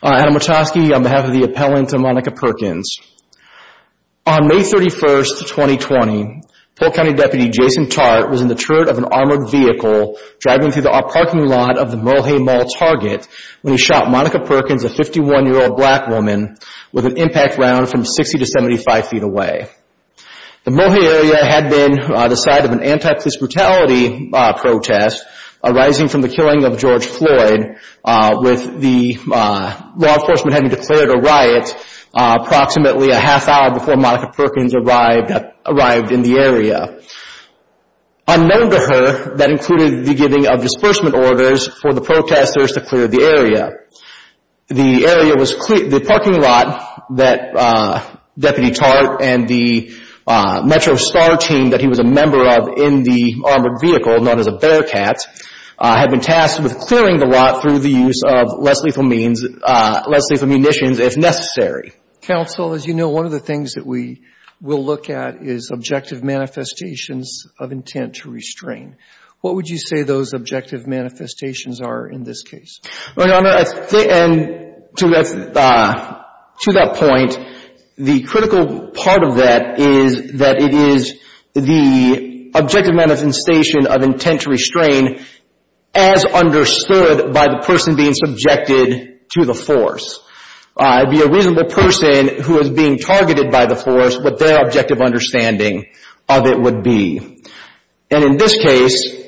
I'm Adam Wachowski on behalf of the appellant to Monica Perkins. On May 31st, 2020, Polk County Deputy Jason Tartt was in the turret of an armored vehicle driving through the parking lot of the Mohe Mall Target when he shot Monica Perkins, a 51-year-old black woman, with an impact round from 60 to 75 feet away. The Mohe area had been the site of an anti-police brutality protest arising from the killing of George Floyd, with the law enforcement having declared a riot approximately a half hour before Monica Perkins arrived in the area. Unknown to her, that included the giving of disbursement orders for the protesters to clear the area. The area was clear, the parking lot that Deputy Tartt and the Metro Star team that he was a member of in the armored vehicle, known as a Bearcat, had been tasked with clearing the lot through the use of less lethal means, less lethal munitions if necessary. Counsel, as you know, one of the things that we will look at is objective manifestations of intent to restrain. What would you say those objective manifestations are in this case? To that point, the critical part of that is that it is the objective manifestation of intent to restrain as understood by the person being subjected to the force. It would be a reasonable person who is being targeted by the force, what their objective understanding of it would be. In this case,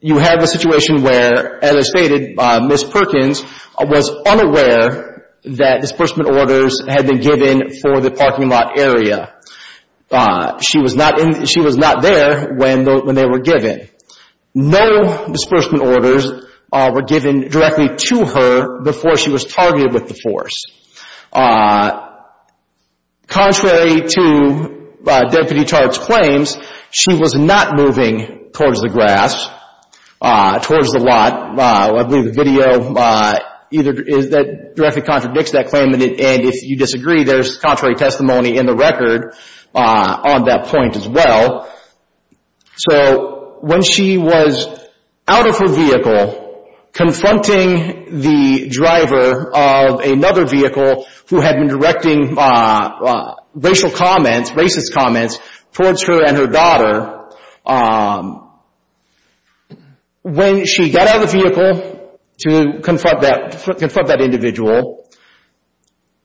you have a situation where, as stated by Ms. Perkins, was unaware that disbursement orders had been given for the parking lot area. She was not there when they were given. No disbursement orders were given directly to her before she was targeted with the force. Contrary to Deputy Tartt's claims, she was not moving towards the grass, towards the lot. I believe the video directly contradicts that claim, and if you disagree, there is contrary testimony in the record on that point as well. When she was out of her vehicle, confronting the driver of another vehicle who had been directing racial comments, racist comments, towards her and her daughter, when she got out of the vehicle to confront that individual,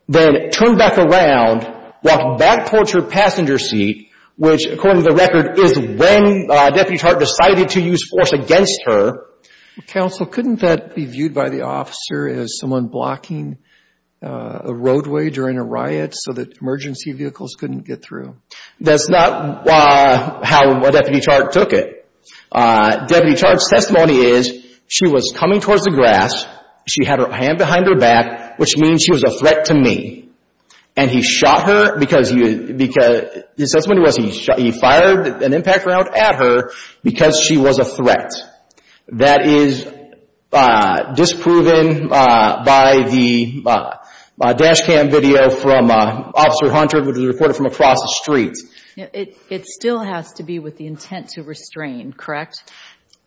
then turned back around, walked back towards her passenger seat, which, according to the record, is when Deputy Tartt decided to use force against her. Counsel, couldn't that be viewed by the officer as someone blocking a roadway during a riot so that emergency vehicles couldn't get through? That's not how Deputy Tartt took it. Deputy Tartt's testimony is, she was coming towards the grass, she had her hand behind her back, which means she was a threat to me, and he fired an impact round at her because she was a threat. That is disproven by the dash cam video from Officer Hunter, which was recorded from across the street. It still has to be with the intent to restrain, correct?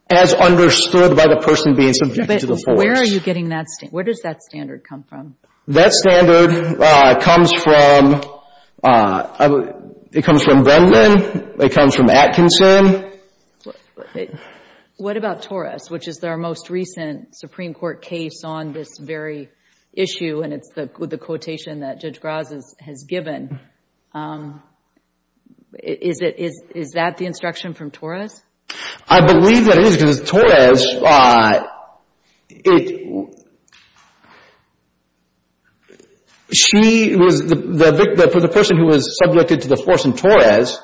As understood by the person being subjected to the force. Where are you getting that standard? Where does that standard come from? That standard comes from, it comes from Vendman, it comes from Atkinson. What about Torres, which is their most recent Supreme Court case on this very issue, and it's the quotation that Judge Graz has given. Is that the instruction from Torres? I believe that it is, because Torres, she was, the person who was subjected to the force in Torres,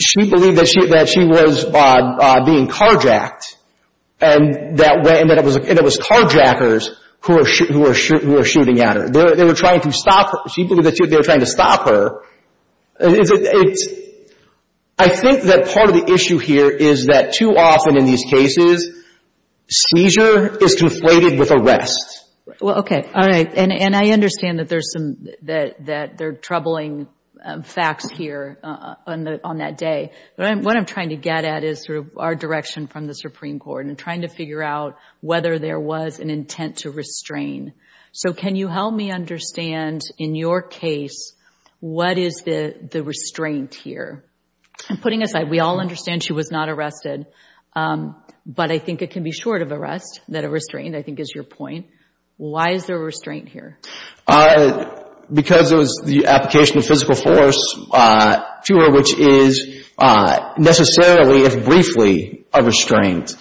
she believed that she was being carjacked, and that it was carjackers who were shooting at her. They were trying to stop her. She believed that they were trying to stop her. I think that part of the issue here is that too often in these cases, seizure is conflated with arrest. Well, okay, all right, and I understand that there's some, that there are troubling facts here on that day. What I'm trying to get at is sort of our direction from the Supreme Court, and trying to figure out whether there was an intent to restrain. So can you help me understand, in your case, what is the restraint here? And putting aside, we all understand she was not arrested, but I think it can be short of arrest, that a restraint, I think is your point. Why is there a restraint here? Because it was the application of physical force, fewer, which is necessarily, if briefly, a restraint.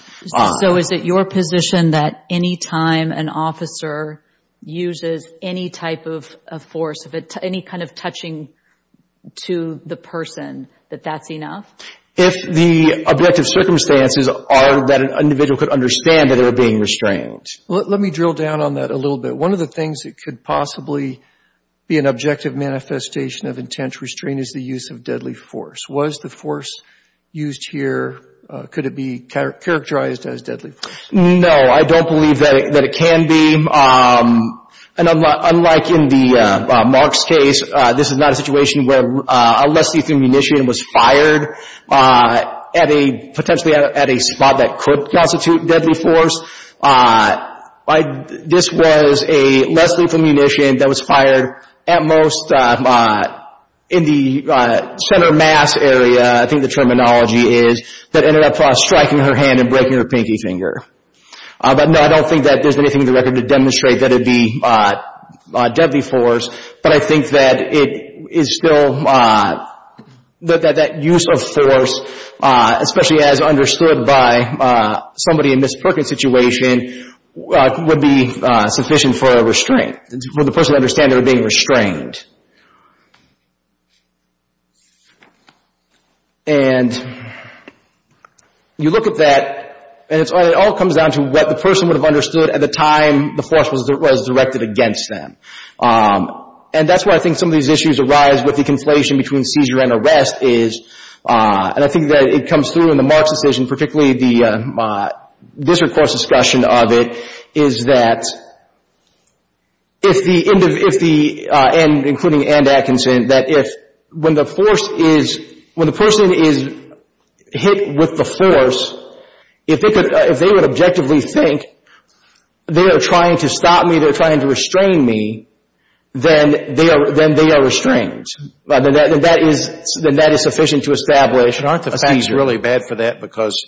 So is it your position that any time an officer uses any type of force, any kind of touching to the person, that that's enough? If the objective circumstances are that an individual could understand that they were being restrained. Let me drill down on that a little bit. One of the things that could possibly be an objective manifestation of intent to restrain is the use of deadly force. Was the force used here, could it be characterized as deadly force? No, I don't believe that it can be. And unlike in the Mark's case, this is not a situation where a less lethal munition was fired at a, potentially at a spot that could constitute deadly force. This was a less lethal munition that was fired at most in the center mass area, I think the terminology is, that ended up striking her hand and breaking her pinky finger. But no, I don't think that there's anything in the record to demonstrate that it'd be deadly force. But I think that it is still, that that use of force, especially as understood by somebody in Ms. Perkins' situation, would be sufficient for a restraint, for the person to understand they were being restrained. And you look at that, and it all comes down to what the person would have understood at the time the force was directed against them. And that's why I think some of these issues arise with the conflation between seizure and arrest is, and I think that it comes through in the Mark's decision, particularly the district court's discussion of it, is that if the, and including Anne Atkinson, that if, when the force is, when the person is hit with the force, if they would objectively think they are trying to stop me, they're trying to restrain me, then they are, then they are restrained. And that is, then that is sufficient to establish a seizure. But aren't the facts really bad for that? Because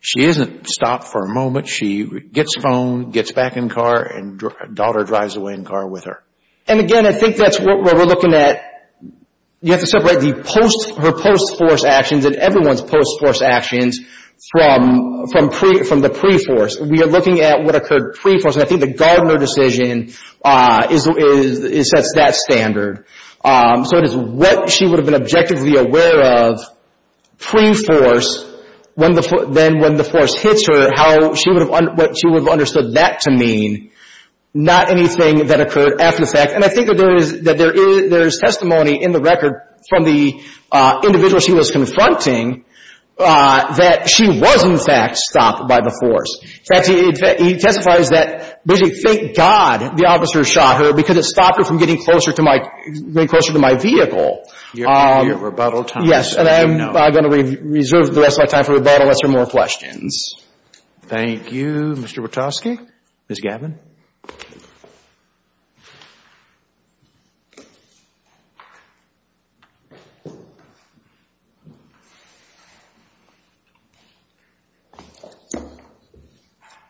she isn't stopped for a moment. She gets phoned, gets back in car, and daughter drives away in car with her. And again, I think that's what we're looking at, you have to separate the post, her post-force actions and everyone's post-force actions from, from pre, from the pre-force. We are looking at what occurred pre-force. And I think the Gardner decision is, is, is, sets that standard. So it is what she would have been objectively aware of pre-force, when the, then when the force hits her, how she would have, what she would have understood that to mean, not anything that occurred after the fact. And I think that there is, that there is, there is testimony in the record from the individual she was confronting that she was in fact stopped by the force. In fact, he, he testifies that, basically, thank God the officer shot her, because it stopped her from getting closer to my, getting closer to my vehicle. Your, your rebuttal time is up. Yes. And I'm going to reserve the rest of my time for rebuttal, unless there are more questions. Thank you, Mr. Bartoski. Ms. Gavin.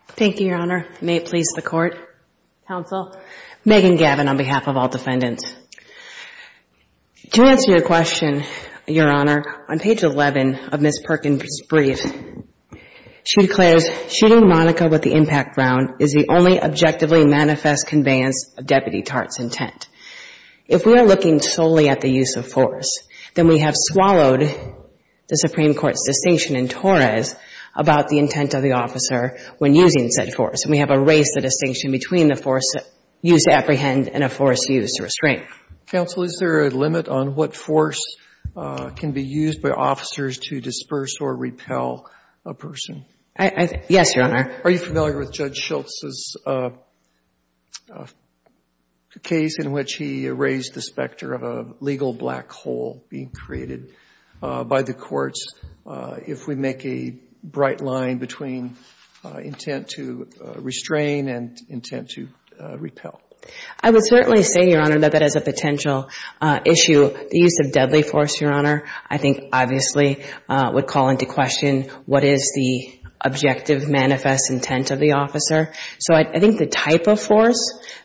Thank you, Your Honor. May it please the Court, Counsel, Megan Gavin, on behalf of all defendants. To answer your question, Your Honor, on page 11 of Ms. Perkins' brief, she declares, shooting Monica with the impact round is the only objectively manifest conveyance of Deputy Tartt's intent. If we are looking solely at the use of force, then we have swallowed the Supreme Court's distinction in Torres about the intent of the officer when using said force, and we have erased the distinction between the force used to apprehend and a force used to restrain. Counsel, is there a limit on what force can be used by officers to disperse or repel a person? Yes, Your Honor. Are you familiar with Judge Schultz's case in which he erased the specter of a legal black hole being created by the courts if we make a bright line between intent to restrain and intent to repel? I would certainly say, Your Honor, that that is a potential issue. The use of deadly force, Your Honor, I think obviously would call into question what is the objective manifest intent of the officer. So I think the type of force,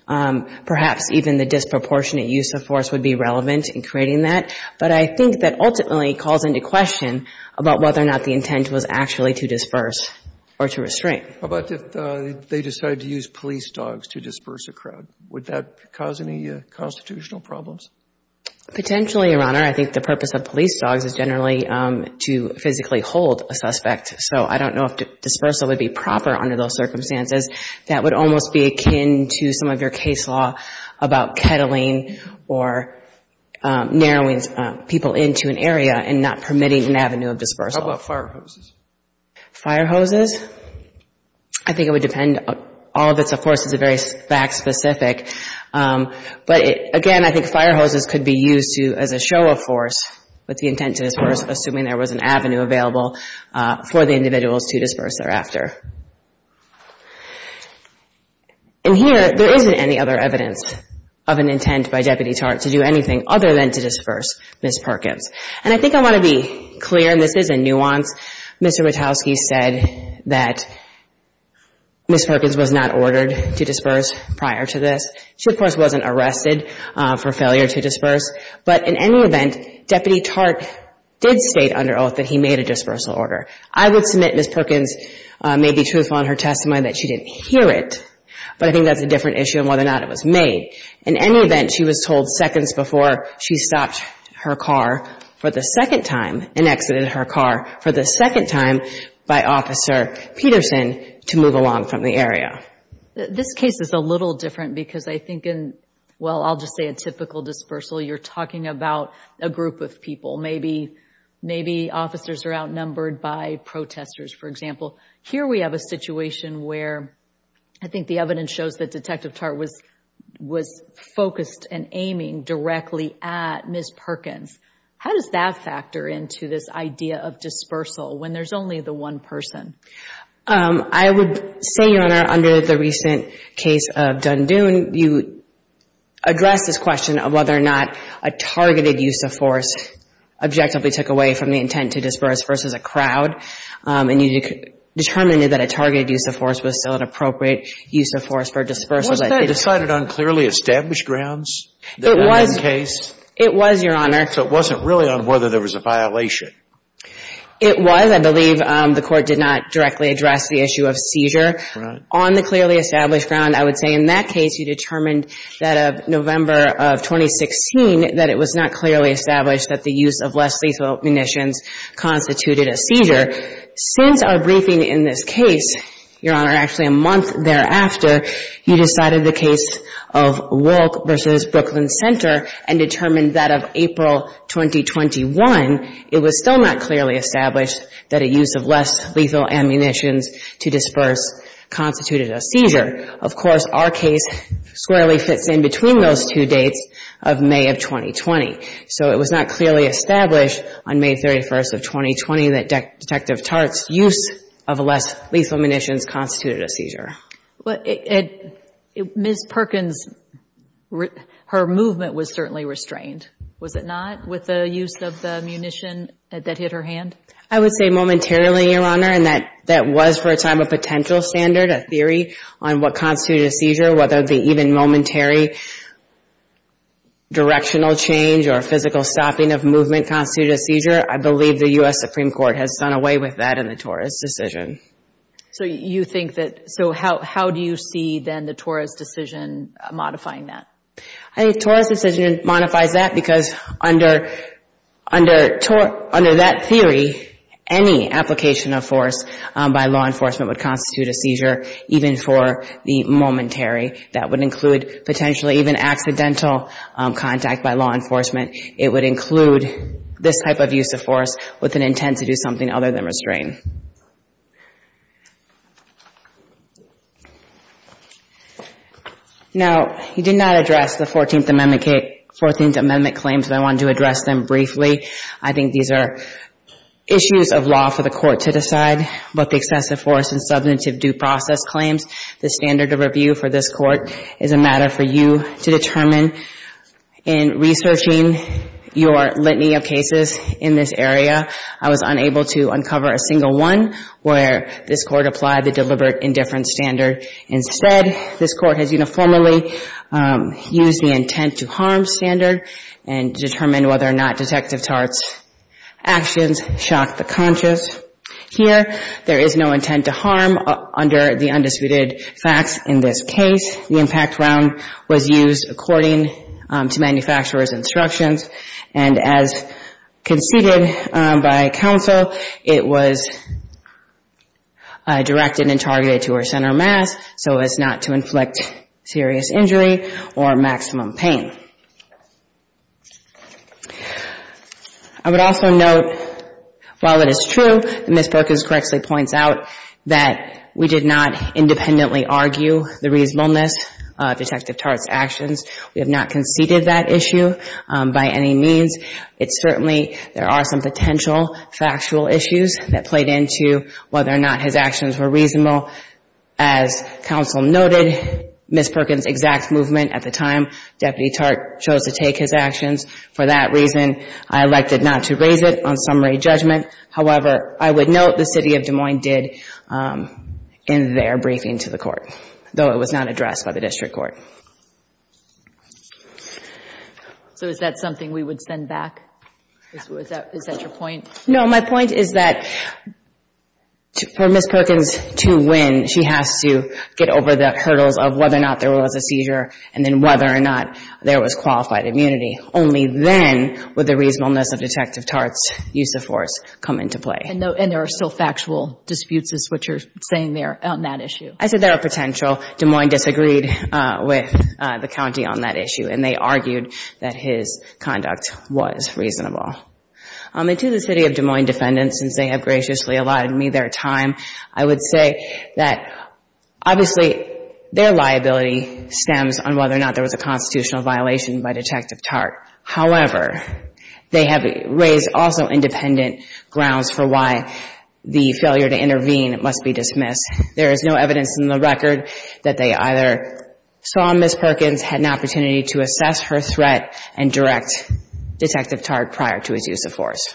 perhaps even the disproportionate use of force would be relevant in creating that. But I think that ultimately calls into question about whether or not the intent was actually to disperse or to restrain. How about if they decided to use police dogs to disperse a crowd? Would that cause any constitutional problems? Potentially, Your Honor. I think the purpose of police dogs is generally to physically hold a suspect. So I don't know if dispersal would be proper under those circumstances. That would almost be akin to some of your case law about kettling or narrowing people into an area and not permitting an avenue of dispersal. How about fire hoses? Fire hoses? I think it would depend. All of it, of course, is very fact-specific. But, again, I think fire hoses could be used as a show of force with the intent to disperse, assuming there was an avenue available for the individuals to disperse thereafter. And here, there isn't any other evidence of an intent by deputy charge to do anything other than to disperse Ms. Perkins. And I think I want to be clear, and this is a nuance, Mr. Wachowski said that Ms. Perkins was not ordered to disperse prior to this. She, of course, wasn't arrested for failure to disperse. But in any event, Deputy Tartt did state under oath that he made a dispersal order. I would submit Ms. Perkins may be truthful in her testimony that she didn't hear it. But I think that's a different issue in whether or not it was made. In any event, she was told seconds before she stopped her car for the second time and exited her car for the second time by Officer Peterson to move along from the area. This case is a little different because I think in, well, I'll just say a typical dispersal, you're talking about a group of people. Maybe officers are outnumbered by protesters, for example. Here we have a situation where I think the evidence shows that Detective Tartt was focused and aiming directly at Ms. Perkins. How does that factor into this idea of dispersal when there's only the one person? I would say, Your Honor, under the recent case of Dundoon, you addressed this question of whether or not a targeted use of force objectively took away from the intent to disperse versus a crowd. And you determined that a targeted use of force was still an appropriate use of force for dispersal. Wasn't that decided on clearly established grounds in that case? It was, Your Honor. So it wasn't really on whether there was a violation. It was. I believe the Court did not directly address the issue of seizure. Right. On the clearly established ground, I would say in that case you determined that of November of 2016 that it was not clearly established that the use of less lethal munitions constituted a seizure. Since our briefing in this case, Your Honor, actually a month thereafter, you decided the case of Wolk v. Brooklyn Center and determined that of April 2021 it was still not clearly established that a use of less lethal ammunitions to disperse constituted a seizure. Of course, our case squarely fits in between those two dates of May of 2020. So it was not clearly established on May 31st of 2020 that Detective Tartt's use of less lethal munitions constituted a seizure. Ms. Perkins, her movement was certainly restrained, was it not, with the use of the munition that hit her hand? I would say momentarily, Your Honor, and that was for a time a potential standard, a theory on what constituted a seizure, whether the even momentary directional change or physical stopping of movement constituted a seizure. I believe the U.S. Supreme Court has done away with that in the Torres decision. So how do you see then the Torres decision modifying that? I think Torres decision modifies that because under that theory, any application of force by law enforcement would constitute a seizure, even for the momentary. That would include potentially even accidental contact by law enforcement. It would include this type of use of force with an intent to do something other than restrain. Now, you did not address the 14th Amendment claims, but I wanted to address them briefly. I think these are issues of law for the court to decide, both excessive force and substantive due process claims. The standard of review for this court is a matter for you to determine. In researching your litany of cases in this area, I was unable to uncover a single one where this court applied the deliberate indifference standard. Instead, this court has uniformly used the intent to harm standard and determined whether or not Detective Tartt's actions shocked the conscious. Here, there is no intent to harm under the undisputed facts in this case. The impact round was used according to manufacturer's instructions, and as conceded by counsel, it was directed and targeted to her center of mass so as not to inflict serious injury or maximum pain. I would also note, while it is true that Ms. Perkins correctly points out that we did not independently argue the reasonableness of Detective Tartt's actions, we have not conceded that issue by any means. Certainly, there are some potential factual issues that played into whether or not his actions were reasonable. As counsel noted, Ms. Perkins' exact movement at the time, Deputy Tartt chose to take his actions. For that reason, I elected not to raise it on summary judgment. However, I would note the City of Des Moines did in their briefing to the court, though it was not addressed by the district court. So is that something we would send back? Is that your point? No. My point is that for Ms. Perkins to win, she has to get over the hurdles of whether or not there was a seizure and then whether or not there was qualified immunity. Only then would the reasonableness of Detective Tartt's use of force come into play. And there are still factual disputes, is what you're saying there, on that issue? I said there are potential. Des Moines disagreed with the county on that issue, and they argued that his conduct was reasonable. And to the City of Des Moines defendants, since they have graciously allotted me their time, I would say that obviously their liability stems on whether or not there was a constitutional violation by Detective Tartt. However, they have raised also independent grounds for why the failure to intervene must be dismissed. There is no evidence in the record that they either saw Ms. Perkins had an opportunity to assess her threat and direct Detective Tartt prior to his use of force.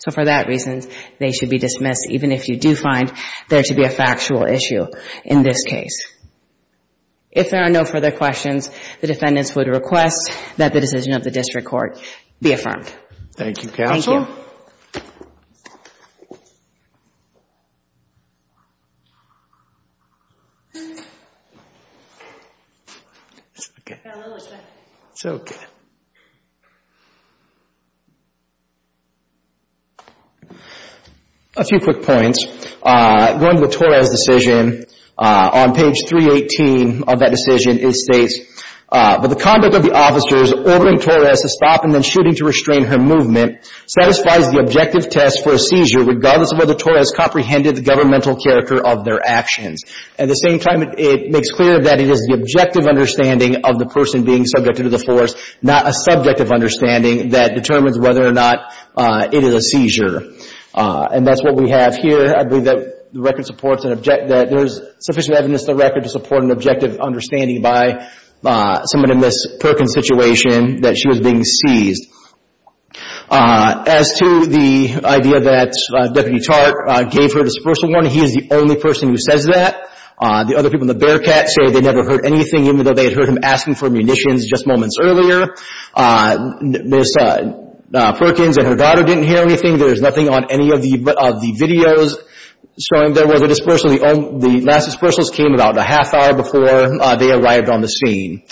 So for that reason, they should be dismissed, even if you do find there to be a factual issue in this case. If there are no further questions, the defendants would request that the decision of the district court be affirmed. Thank you, counsel. Thank you. A few quick points. Going to the Torres decision, on page 318 of that decision, it states, but the conduct of the officers ordering Torres to stop and then shooting to restrain her movement satisfies the objective test for a seizure regardless of whether Torres comprehended the governmental character of their actions. At the same time, it makes clear that it is the objective understanding of the person being subjected to the force, not a subjective understanding that determines whether or not it is a seizure. And that's what we have here. I believe that there is sufficient evidence in the record to support an objective understanding by someone in this Perkins situation that she was being seized. As to the idea that Deputy Tartt gave her dispersal warning, he is the only person who says that. The other people in the Bearcat say they never heard anything, even though they had heard him asking for munitions just moments earlier. Ms. Perkins and her daughter didn't hear anything. There is nothing on any of the videos showing there was a dispersal. The last dispersals came about a half hour before they arrived on the scene.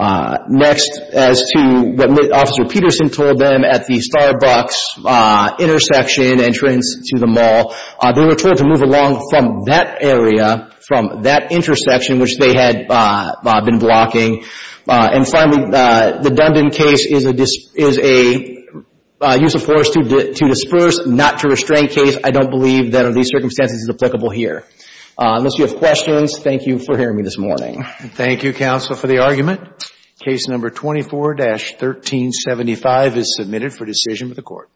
Next, as to what Officer Peterson told them at the Starbucks intersection entrance to the mall, they were told to move along from that area, from that intersection, which they had been blocking. And finally, the Dundon case is a use of force to disperse, not to restrain case. I don't believe that under these circumstances is applicable here. Unless you have questions, thank you for hearing me this morning. Thank you, Counsel, for the argument. Case No. 24-1375 is submitted for decision by the Court.